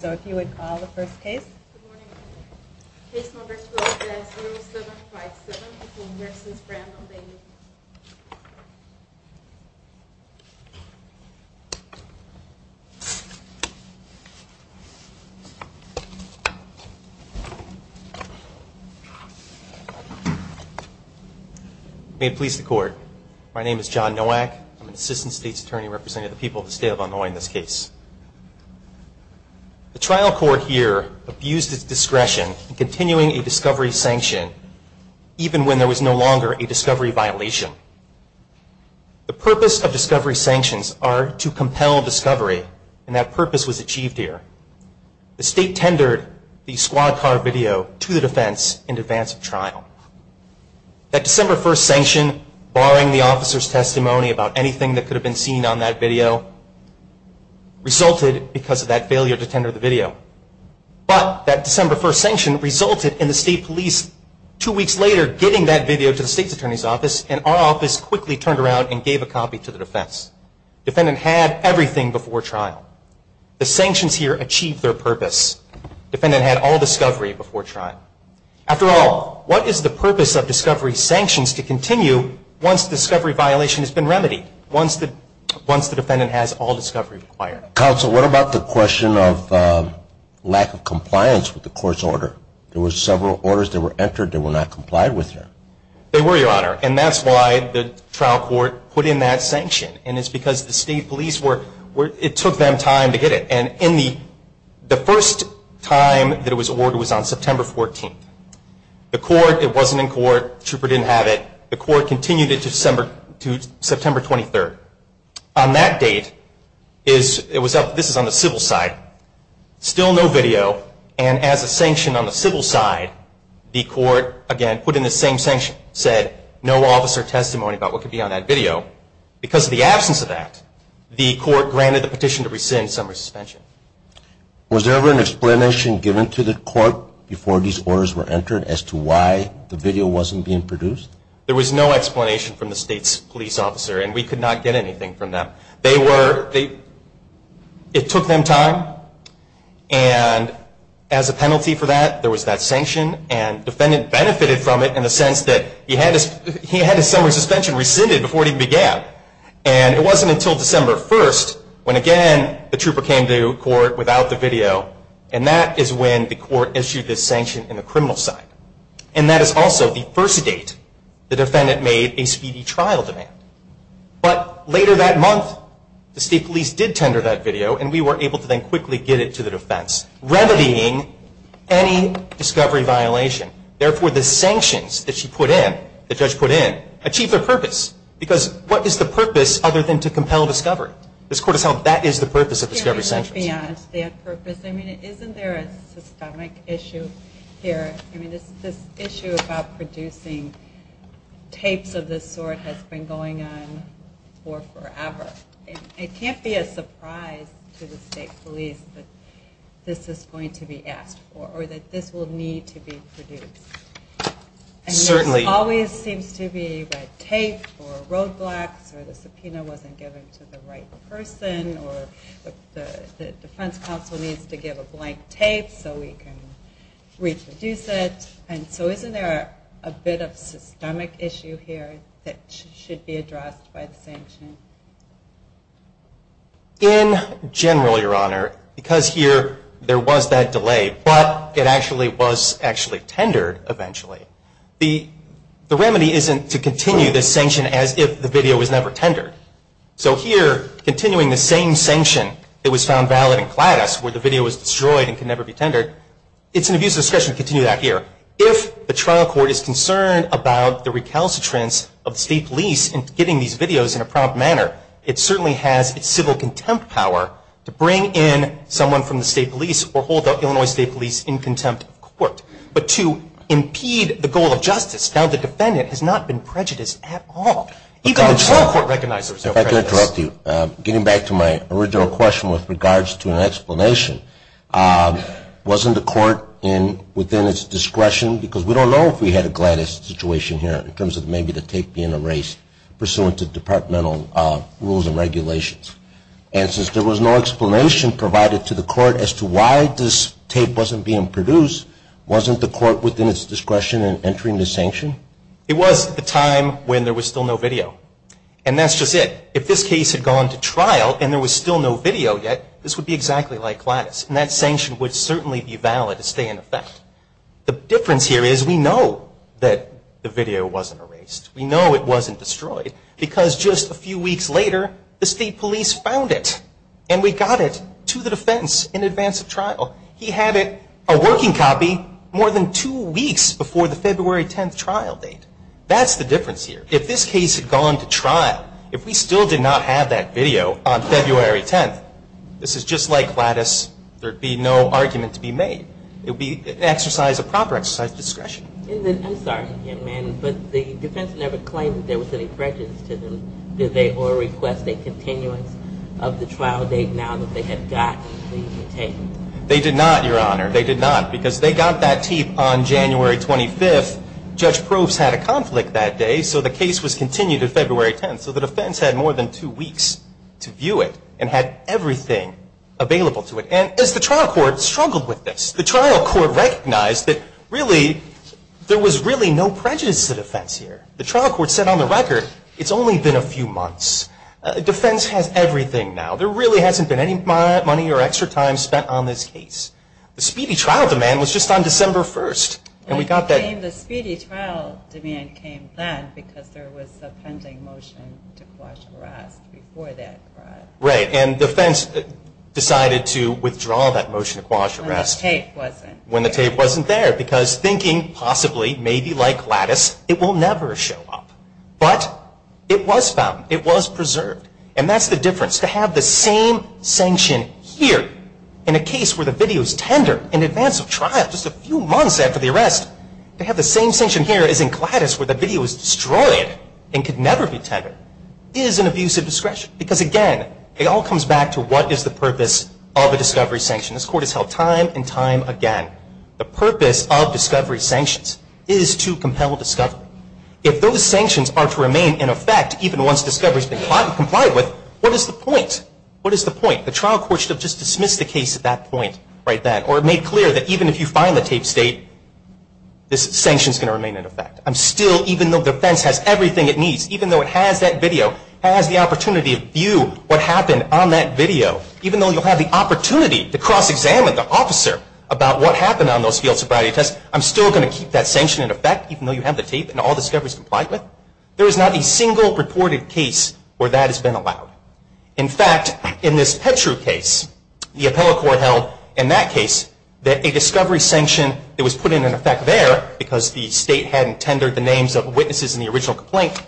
So if you would call the first case, case number 0 7 5 7 versus Brandon Bailey. May it please the court. My name is John Nowak. I'm an assistant state's attorney representing the people of the state of Illinois in this case. The trial court here abused its discretion in continuing a discovery sanction even when there was no longer a discovery violation. The purpose of discovery sanctions are to compel discovery and that purpose was achieved here. The state tendered the squad car video to the defense in advance of trial. That December 1st sanction barring the officer's testimony about anything that could have been seen on that video resulted because of that failure to tender the video. But that December 1st sanction resulted in the state police two weeks later getting that video to the state's attorney's office and our office quickly turned around and gave a copy to the defense. Defendant had everything before trial. The sanctions here achieved their purpose. Defendant had all discovery before trial. After all, what is the purpose of discovery sanctions to continue once discovery violation has been remedied, once the defendant has all discovery required? Counsel, what about the question of lack of compliance with the court's order? There were several orders that were entered that were not complied with here. They were, Your Honor. And that's why the trial court put in that sanction. And it's because the state police were, it took them time to get it. And in the, the first time that it was ordered was on September 14th. The court, it wasn't in court, the trooper didn't have it. The court continued it to September 23rd. On that date, it was up, this is on the civil side. Still no video. And as a sanction on the civil side, the court again put in the same sanction, said no officer testimony about what could be on that video. Because of the absence of that, the court granted the petition to rescind summary suspension. Was there ever an explanation given to the court before these orders were entered as to why the video wasn't being produced? There was no explanation from the state's police officer. And we could not get anything from them. They were, they, it took them time. And as a penalty for that, there was that sanction. And defendant benefited from it in the sense that he had his, he had his summary suspension rescinded before it even began. And it wasn't until December 1st, when again the trooper came to court without the video. And that is when the court issued this sanction in the criminal side. And that is also the first date the defendant made a speedy trial demand. But later that month, the state police did tender that video and we were able to then quickly get it to the defense, remedying any discovery violation. Therefore, the sanctions that she put in, the judge put in, achieved their purpose. Because what is the purpose other than to compel discovery? This court has held that is the purpose of discovery sanctions. Beyond that purpose, I mean, isn't there a systemic issue here? I mean, this, this issue about producing tapes of this sort has been going on for forever. And it can't be a surprise to the state police that this is going to be asked for, or that this will need to be produced. And this always seems to be red tape, or roadblocks, or the subpoena wasn't given to the right person, or the defense counsel needs to give a blank tape so we can reproduce it. And so isn't there a bit of systemic issue here that should be addressed by the sanction? In general, Your Honor, because here there was that delay, but it actually was actually tendered eventually, the remedy isn't to continue the sanction as if the video was never tendered. So here, continuing the same sanction that was found valid in Gladys, where the video was destroyed and can never be tendered, it's an abuse of discretion to continue that here. If the trial court is concerned about the recalcitrance of the state police in getting these videos in a prompt manner, it certainly has its civil contempt power to bring in someone from the state police or hold the Illinois State Police in contempt of court. But to impede the goal of justice, now the defendant has not been prejudiced at all. Even the trial court recognizes there was no prejudice. If I could interrupt you. Getting back to my original question with regards to an explanation, wasn't the court within its discretion, because we don't know if we had a Gladys situation here in terms of maybe the tape being erased pursuant to departmental rules and regulations. And since there was no explanation provided to the court as to why this tape wasn't being produced, wasn't the court within its discretion in entering the sanction? It was at the time when there was still no video. And that's just it. If this case had gone to trial and there was still no video yet, this would be exactly like Gladys. And that sanction would certainly be valid and stay in effect. The difference here is we know that the video wasn't erased. We know it wasn't destroyed. Because just a few weeks later, the state police found it. And we got it to the defense in advance of trial. He had it, a working copy, more than two weeks before the February 10th trial date. That's the difference here. If this case had gone to trial, if we still did not have that video on February 10th, this is just like Gladys. There would be no argument to be made. It would be exercise of proper exercise of discretion. I'm sorry, but the defense never claimed that there was any prejudice to them, did they, or request a continuance of the trial date now that they had gotten the tape? They did not, Your Honor. They did not. Because they got that tape on January 25th. Judge Probst had a conflict that day, so the case was continued to February 10th. So the defense had more than two weeks to view it and had everything available to it. And as the trial court struggled with this, the trial court recognized that really there was really no prejudice to the defense here. The trial court said on the record, it's only been a few months. Defense has everything now. There really hasn't been any money or extra time spent on this case. The speedy trial demand was just on December 1st. And the speedy trial demand came then because there was a pending motion to quash arrest before that. Right. And defense decided to withdraw that motion to quash arrest. When the tape wasn't there. When the tape wasn't there. Because thinking possibly, maybe like Gladys, it will never show up. But it was found. It was preserved. And that's the difference. To have the same sanction here in a case where the video is tender in advance of trial, just a few months after the arrest, to have the same sanction here as in Gladys where the video was destroyed and could never be tendered, is an abusive discretion. Because again, it all comes back to what is the purpose of a discovery sanction. This court has held time and time again, the purpose of discovery sanctions is to compel discovery. If those sanctions are to remain in effect, even once discovery has been caught and complied with, what is the point? What is the point? The trial court should have just dismissed the case at that point right then. Or made clear that even if you find the tape state, this sanction is going to remain in effect. I'm still, even though defense has everything it needs, even though it has that video, has the opportunity to view what happened on that video, even though you'll have the opportunity to cross-examine the officer about what happened on those field sobriety tests, I'm still going to keep that sanction in effect even though you have the tape and all discovery is complied with. There is not a single reported case where that has been allowed. In fact, in this Petru case, the appellate court held in that case that a discovery sanction that was put in effect there, because the state hadn't tendered the names of witnesses in the original complaint,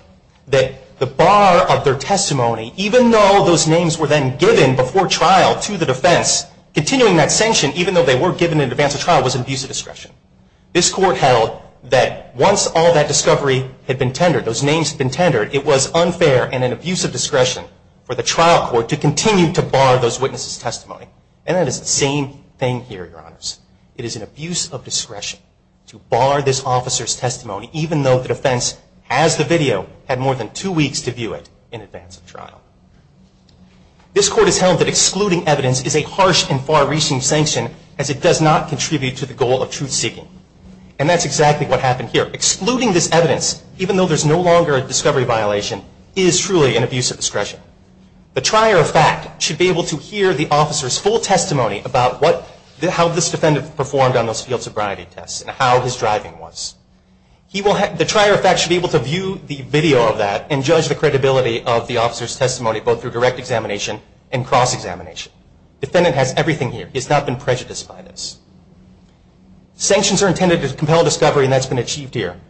that the bar of their testimony, even though those names were then given before trial to the defense, continuing that sanction even though they were given in advance of trial was an abusive discretion. This court held that once all that discovery had been tendered, those names had been tendered, it was unfair and an abusive discretion for the trial court to continue to bar those witnesses' testimony. And that is the same thing here, Your Honors. It is an abuse of discretion to bar this officer's testimony even though the defense, has the video, had more than two weeks to view it in advance of trial. This court has held that excluding evidence is a harsh and far-reaching sanction as it And that is exactly what happened here. Excluding this evidence, even though there is no longer a discovery violation, is truly an abusive discretion. The trier of fact should be able to hear the officer's full testimony about how this defendant performed on those field sobriety tests and how his driving was. The trier of fact should be able to view the video of that and judge the credibility of the officer's testimony both through direct examination and cross-examination. The defendant has everything here. He has not been prejudiced by this. Sanctions are intended to compel discovery and that has been achieved here.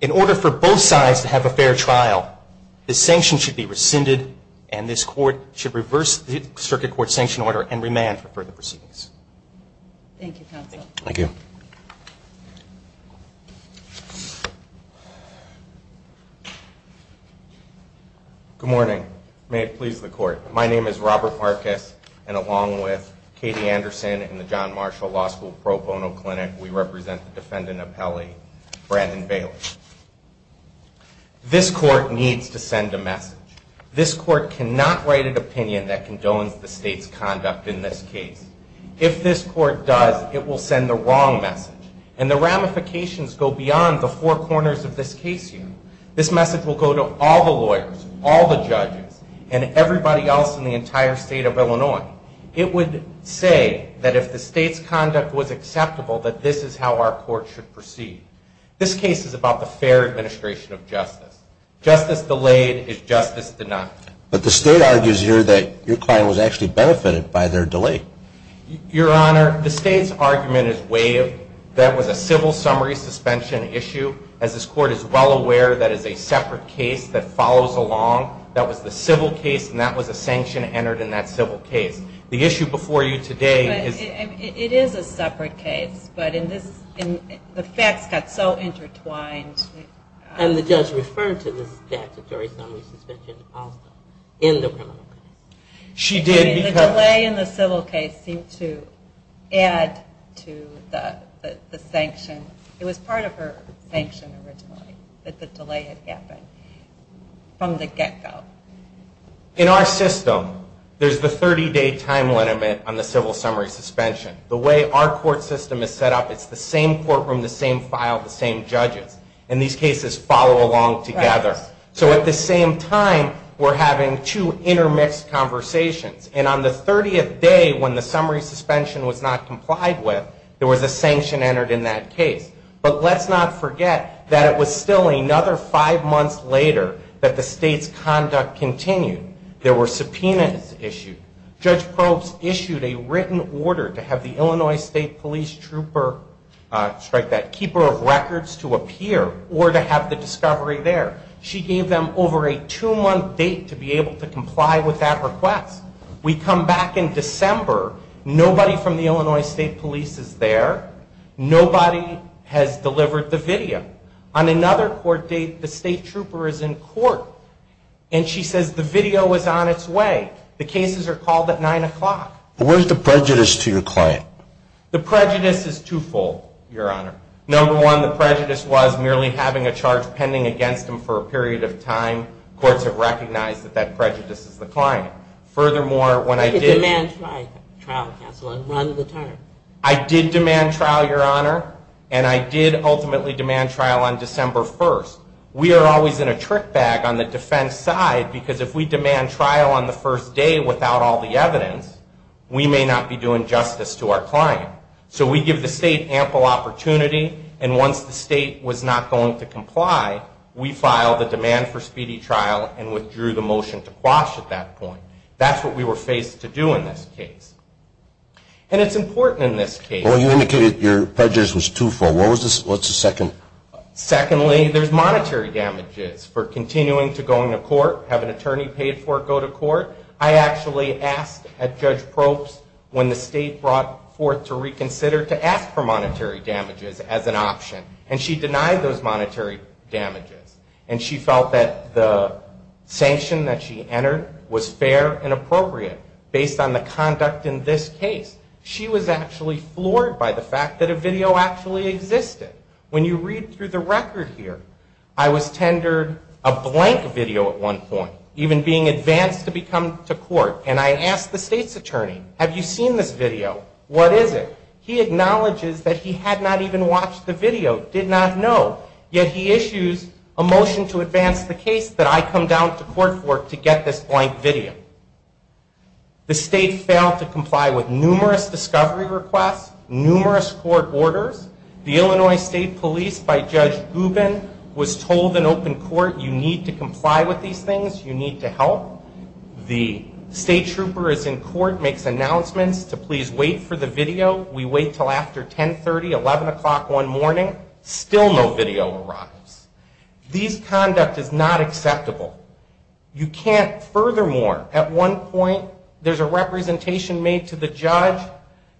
In order for both sides to have a fair trial, this sanction should be rescinded and this court should reverse the Circuit Court's sanction order and remand for further proceedings. Thank you, Counsel. Thank you. Good morning. May it please the Court. My name is Robert Marcus and along with Katie Anderson in the John Marshall Law School Pro Bono Clinic, we represent the defendant appellee, Brandon Bailey. This court needs to send a message. This court cannot write an opinion that condones the state's conduct in this case. If this court does, it will ramifications go beyond the four corners of this case here. This message will go to all the lawyers, all the judges, and everybody else in the entire state of Illinois. It would say that if the state's conduct was acceptable, that this is how our court should proceed. This case is about the fair administration of justice. Justice delayed is justice denied. But the state argues here that your client was actually benefited by their delay. Your Honor, the state's argument is waived. That was a civil summary suspension issue. As this court is well aware, that is a separate case that follows along. That was the civil case and that was a sanction entered in that civil case. The issue before you today is It is a separate case, but the facts got so intertwined. And the judge referred to the statutory summary suspension also in the criminal case. The delay in the civil case seemed to add to the sanction. It was part of her sanction originally, that the delay had happened from the get-go. In our system, there's the 30-day time limit on the civil summary suspension. The way our court system is set up, it's the same courtroom, the same file, the same judges. And these judges at the same time were having two intermixed conversations. And on the 30th day when the summary suspension was not complied with, there was a sanction entered in that case. But let's not forget that it was still another five months later that the state's conduct continued. There were subpoenas issued. Judge Probst issued a written order to have the Illinois State Police Trooper, keeper of records to appear or to have the discovery there. She gave them over a two-month date to be able to comply with that request. We come back in December. Nobody from the Illinois State Police is there. Nobody has delivered the video. On another court date, the state trooper is in court. And she says the video is on its way. The cases are called at 9 o'clock. Where's the prejudice to your client? The prejudice is twofold, Your Honor. Number one, the prejudice was merely having a charge pending against him for a period of time. Courts have recognized that that prejudice is the client. Furthermore, when I did... I did demand trial, Your Honor. And I did ultimately demand trial on December 1st. We are always in a trick bag on the defense side because if we demand trial on the first day without all the evidence, we may not be doing justice to our client. So we give the state ample opportunity. And once the state was not going to comply, we filed a demand for speedy trial and withdrew the motion to quash at that point. That's what we were faced to do in this case. And it's important in this case... Well, you indicated your prejudice was twofold. What's the second? Secondly, there's monetary damages for continuing to go into court, have an attorney paid for it, go to court. I actually asked at Judge Probst when the state brought forth to reconsider to ask for monetary damages as an option. And she denied those monetary damages. And she felt that the sanction that she entered was fair and appropriate based on the conduct in this case. She was actually floored by the fact that a video actually existed. When you read through the record here, I was tendered a blank video at one point, even being advanced to come to court. And I asked the state's attorney, have you seen this video? What is it? He acknowledges that he had not even watched the video, did not know. Yet he issues a motion to advance the case that I come down to court for to get this blank video. The state failed to comply with numerous discovery requests, numerous court orders. The Illinois State Police, by Judge Gubin, was told in open court, you need to comply with these things. You need to help. The state trooper is in court, makes announcements to please wait for the video. We wait until after 10.30, 11 o'clock one morning. Still no video arrives. These conduct is not acceptable. You can't... Furthermore, at one point, there's a representation made to the judge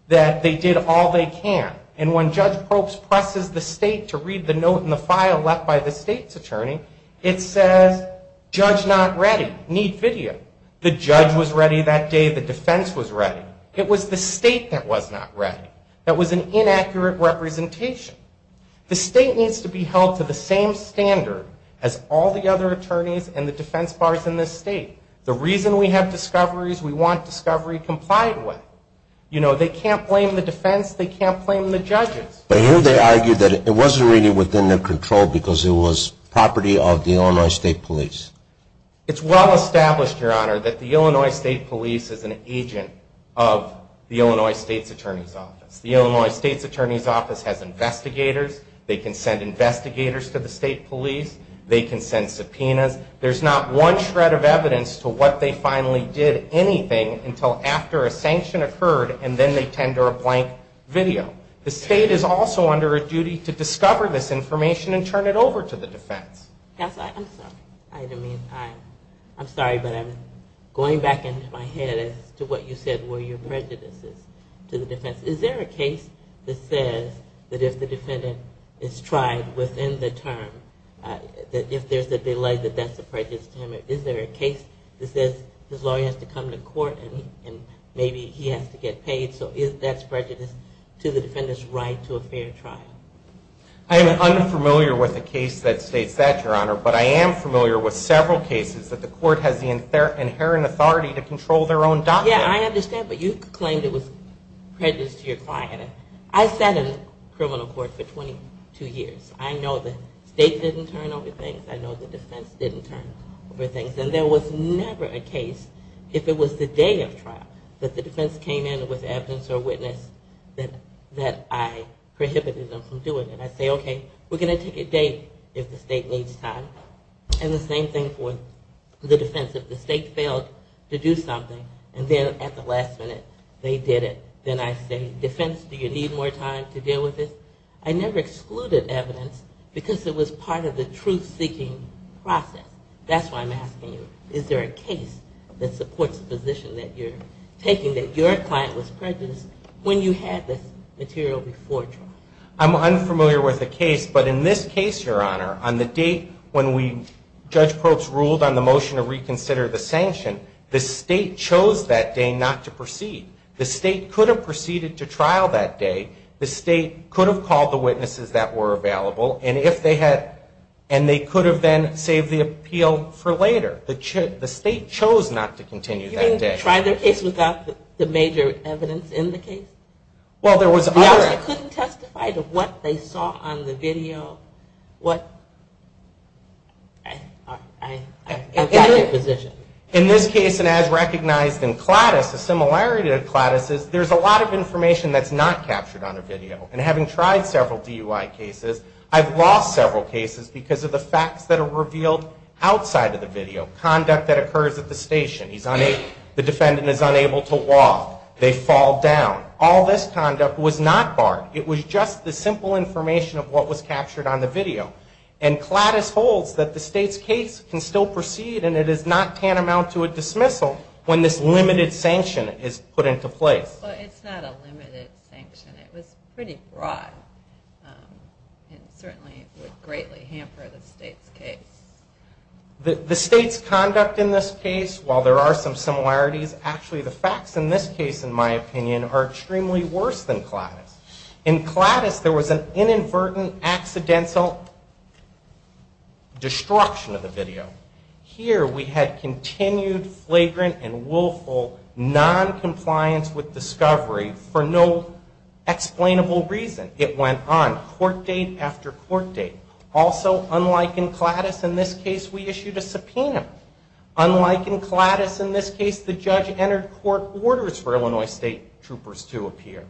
that they did all they can. And when Judge Probst presses the state to read the note in the file left by the state's attorney, it says, judge not ready, need video. The judge was ready that day, the defense was ready. It was the state that was not ready. That was an inaccurate representation. The state needs to be held to the same standard as all the other attorneys and the defense bars in this state. The reason we have discovery is we want discovery complied with. They can't blame the defense. They can't blame the judges. But here they argue that it wasn't really within their control because it was property of the Illinois State Police. It's well established, Your Honor, that the Illinois State Police is an agent of the Illinois State's Attorney's Office. The Illinois State's Attorney's Office has investigators. They can send investigators to the state police. They can send subpoenas. There's not one shred of evidence to what they finally did anything until after a sanction occurred and then they tend to a blank video. The state is also under a duty to discover this information and turn it over to the defense. I'm sorry, but I'm going back into my head as to what you said were your prejudices to the defense. Is there a case that says that if the defendant is tried within the term, that if there's a delay, that that's a prejudice to him? Is there a case that says his lawyer has to come to court and maybe he has to get paid, so that's prejudice to the defendant's right to a fair trial? I am unfamiliar with a case that states that, Your Honor, but I am familiar with several cases that the court has the inherent authority to control their own document. Yeah, I understand, but you claimed it was prejudice to your client. I sat in criminal court for 22 years. I know the state didn't turn over things. I know the defense didn't turn over things. And there was never a case, if it was the day of trial, that the defense came in with evidence or witness that I prohibited them from doing it. I say, okay, we're going to take a date if the state needs time. And the same thing for the defense. If the state failed to do something and then at the last minute they did it, then I say, defense, do you need more time to deal with this? I never excluded evidence because it was part of the truth-seeking process. That's why I'm asking you, is there a case that supports the position that you're taking, that your client was prejudiced when you had this material before trial? I'm unfamiliar with the case, but in this case, Your Honor, on the date when Judge Probst ruled on the motion to proceed to trial that day, the state could have called the witnesses that were available. And they could have then saved the appeal for later. The state chose not to continue that day. You mean try their case without the major evidence in the case? Well, there was... I couldn't testify to what they saw on the video. In this case, and as recognized in Cladis, the similarity to Cladis is there's a lot of information that's not captured on a video. And having tried several DUI cases, I've lost several cases because of the facts that are revealed outside of the video. Conduct that occurs at the station. The defendant is unable to walk. They fall down. All this conduct was not barred. It was just the simple information of what was captured on the video. And Cladis holds that the state's case can still proceed, and it is not tantamount to a dismissal when this limited sanction is put into place. But it's not a limited sanction. It was pretty broad. It certainly would greatly hamper the state's case. The state's conduct in this case, while there are some similarities, actually the facts in this case, in my opinion, are extremely worse than Cladis. In Cladis, there was an inadvertent, accidental destruction of the video. Here, we had continued flagrant and willful noncompliance with discovery for no explainable reason. It went on, court date after court date. Also, unlike in Cladis, in this case, we issued a subpoena. Unlike in Cladis, in this case, the judge entered court orders for Illinois State Troopers to appear.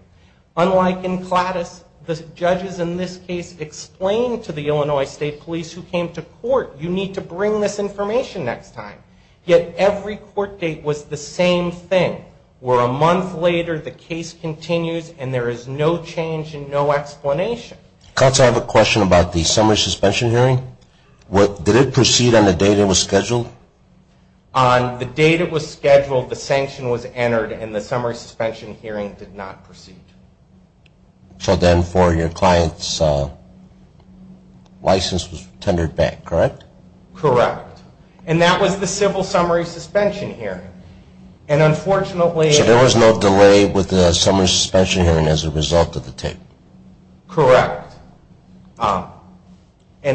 Unlike in Cladis, the judges in this case explained to the Illinois State Police who came to court, you need to bring this information next time. Yet every court date was the same thing, where a month later the case continues and there is no change and no explanation. Counsel, I have a question about the summary suspension hearing. Did it proceed on the date it was scheduled? The date it was scheduled, the sanction was entered, and the summary suspension hearing did not proceed. So then for your client's license was tendered back, correct? Correct. And that was the civil summary suspension hearing. So there was no delay with the summary suspension hearing as a result of the tape? Correct. And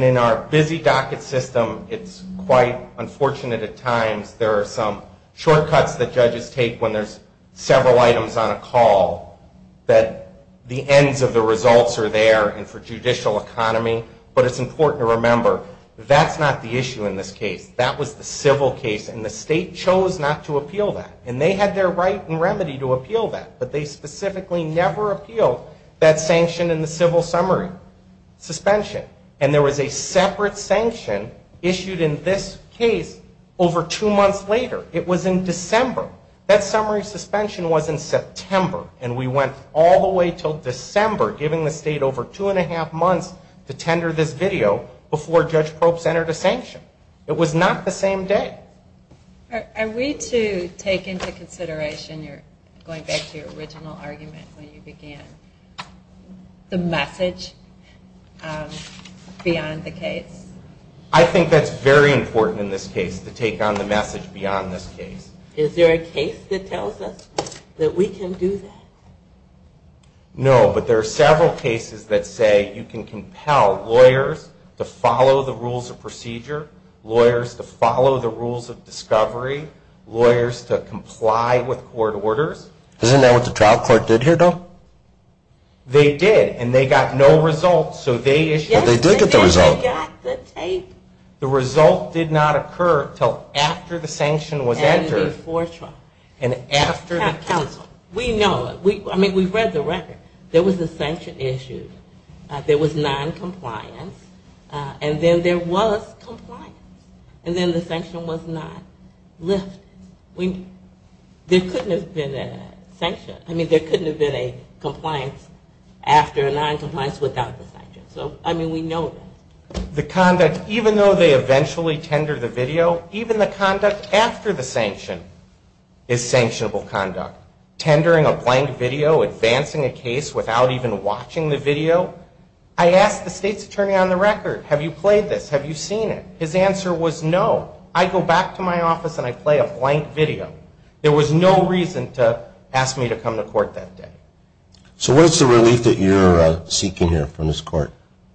in our busy docket system, it's quite unfortunate at times there are some items on a call that the ends of the results are there and for judicial economy, but it's important to remember that's not the issue in this case. That was the civil case and the state chose not to appeal that. And they had their right and remedy to appeal that, but they specifically never appealed that sanction in the civil summary suspension. And there was a separate sanction issued in this case over two months later. It was in December. That summary suspension was in September. And we went all the way until December, giving the state over two and a half months to tender this video before Judge Probst entered a sanction. It was not the same day. Are we to take into consideration, going back to your original argument when you began, the message beyond the case? I think that's very important in this case to take on the message beyond this case. Is there a case that tells us that we can do that? No, but there are several cases that say you can compel lawyers to follow the rules of procedure, lawyers to follow the rules of discovery, lawyers to comply with court orders. Isn't that what the trial court did here, though? They did. And they got no results. Yes, they did get the results. The result did not occur until after the sanction was entered and after the counsel. We know. I mean, we've read the record. There was a sanction issued. There was noncompliance. And then there was compliance. And then the sanction was not lifted. There couldn't have been a sanction. I mean, there couldn't have been a compliance after a noncompliance without the sanction. So, I mean, we know that. The conduct, even though they eventually tender the video, even the conduct after the sanction is sanctionable conduct. Tendering a blank video, advancing a case without even watching the video. I asked the state's attorney on the record, have you played this? Have you seen it? His answer was no. I go back to my office and I play a blank video. There was no reason to ask me to come to court that day. So what is the relief that you're seeking here from this court?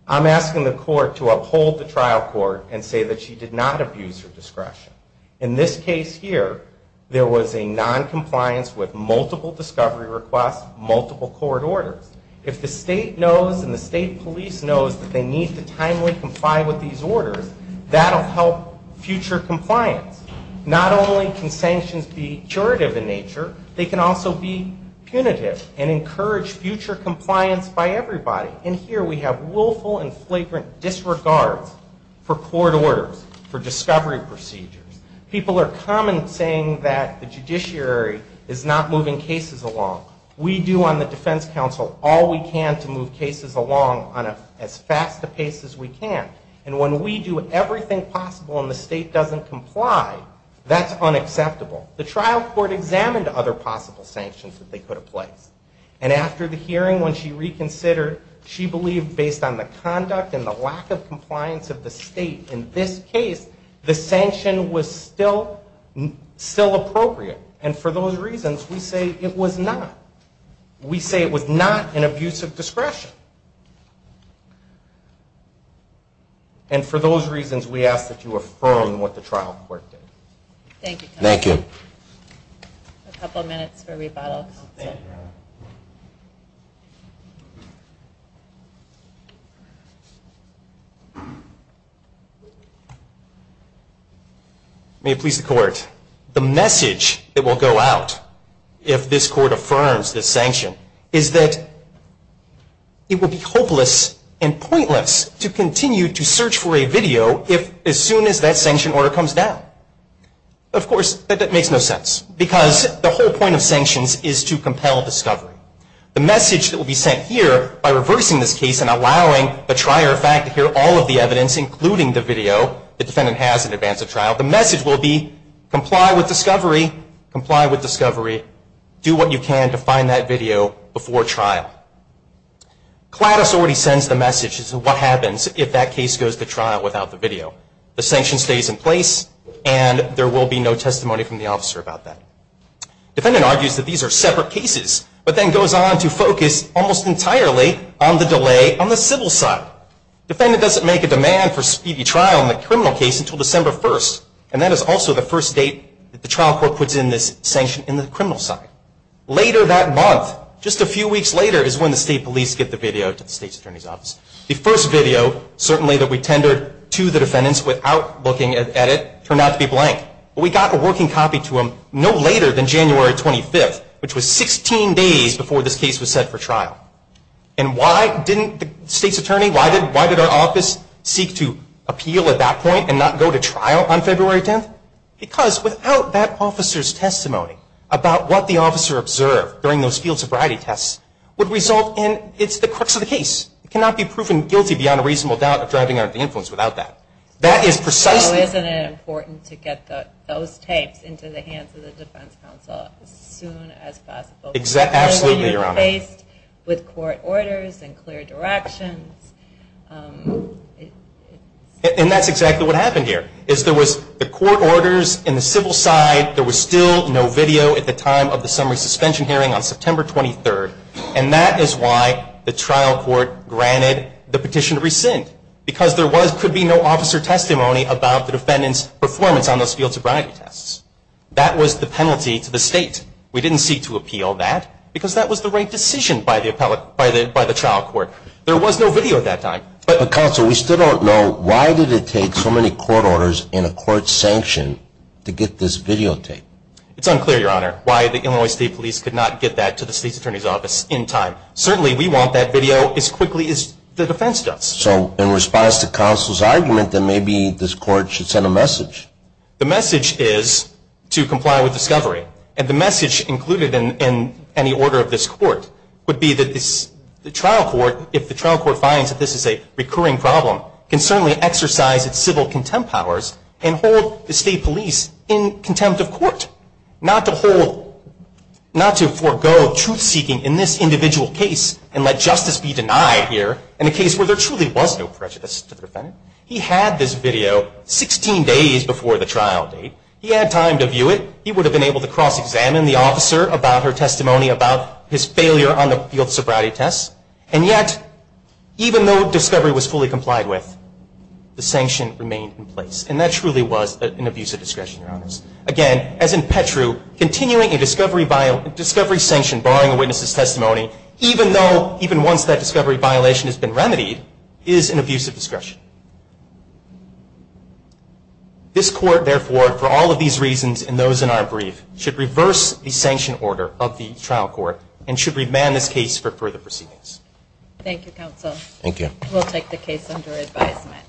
I'm asking the court to uphold the trial court and say that she did not abuse her discretion. In this case here, there was a noncompliance with multiple discovery requests, multiple court orders. If the state knows and the state police knows that they need to timely comply with these orders, that will help future compliance. Not only can sanctions be curative in nature, they can also be punitive and encourage future compliance by everybody. And here we have willful and flagrant disregard for court orders, for discovery procedures. People are commenting that the judiciary is not moving cases along. We do on the defense counsel all we can to move cases along on as fast a pace as we can. And when we do everything possible and the state doesn't comply, that's unacceptable. The trial court examined other possible sanctions that they could have placed. And after the hearing, when she reconsidered, she believed based on the conduct and the lack of compliance of the state in this case, the sanction was still appropriate. And for those reasons, we say it was not. We say it was not an abuse of discretion. And for those reasons, we ask that you affirm what the trial court did. Thank you. A couple minutes for rebuttal. May it please the court, the message that will go out if this court affirms this sanction is that it will be hopeless and pointless to continue to search for a video as soon as that sanction order comes down. Of course, that makes no sense, because the whole point of sanctions is to compel discovery. The message that will be sent here by reversing this case and allowing the trier of fact to hear all of the evidence, including the video the defendant has in advance of trial, the message will be comply with discovery, comply with discovery, do what you can to find that video before trial. CLATOS already sends the message as to what happens if that case goes to trial without the video. The sanction stays in place and there will be no testimony from the officer about that. Defendant argues that these are separate cases, but then goes on to focus almost entirely on the delay on the civil side. Defendant doesn't make a demand for speedy trial in the criminal case until December 1st, and that is also the first date that the trial court puts in this sanction in the criminal side. Later that month, just a few weeks later, is when the state police get the video to the state's attorney's office. The first video, certainly, that we tendered to the defendants without looking at it, turned out to be blank. We got a working copy to them no later than January 25th, which was 16 days before this case was set for trial. And why didn't the state's attorney, why did our office seek to appeal at that point and not go to trial on February 10th? Because without that officer's testimony about what the officer observed during those field sobriety tests would result in, it's the crux of the case. It cannot be proven guilty beyond a reasonable doubt of driving out the influence without that. That is precisely... So isn't it important to get those tapes into the hands of the defense counsel as soon as possible? Absolutely, Your Honor. When you're faced with court orders and clear directions... And that's exactly what happened here, is there was the court orders in the civil side, there was still no video at the time of the summary suspension hearing on September 23rd, and that is why the trial court granted the petition to rescind. Because there could be no officer testimony about the defendant's performance on those field sobriety tests. That was the penalty to the state. We didn't seek to appeal that because that was the right decision by the trial court. There was no video at that time. But counsel, we still don't know why did it take so many court orders and a court sanction to get this videotape? It's unclear, Your Honor, why the Illinois State Police could not get that to the state's attorney's office in time. Certainly we want that video as quickly as the defense does. So in response to counsel's argument, then maybe this court should send a message. The message is to comply with discovery. And the message included in any order of this court would be that the trial court, if the trial court finds that this is a recurring problem, can certainly exercise its civil contempt powers and hold the state police in contempt of court. Not to forego truth-seeking in this individual case and let justice be denied here in a case where there truly was no prejudice to the defendant. He had this video 16 days before the trial date. He had time to view it. He would have been able to cross-examine the officer about her testimony about his failure on the field sobriety test. And yet, even though discovery was fully complied with, the sanction remained in place. And that truly was an abuse of discretion, Your Honors. Again, as in Petru, continuing a discovery sanction, borrowing a witness's testimony, even though, even once that discovery violation has been remedied, is an abuse of discretion. This court, therefore, for all of these reasons and those in our brief, should reverse the sanction order of the trial court and should remand this case for further proceedings. Thank you, Counsel. Thank you. We'll take the case under advisement.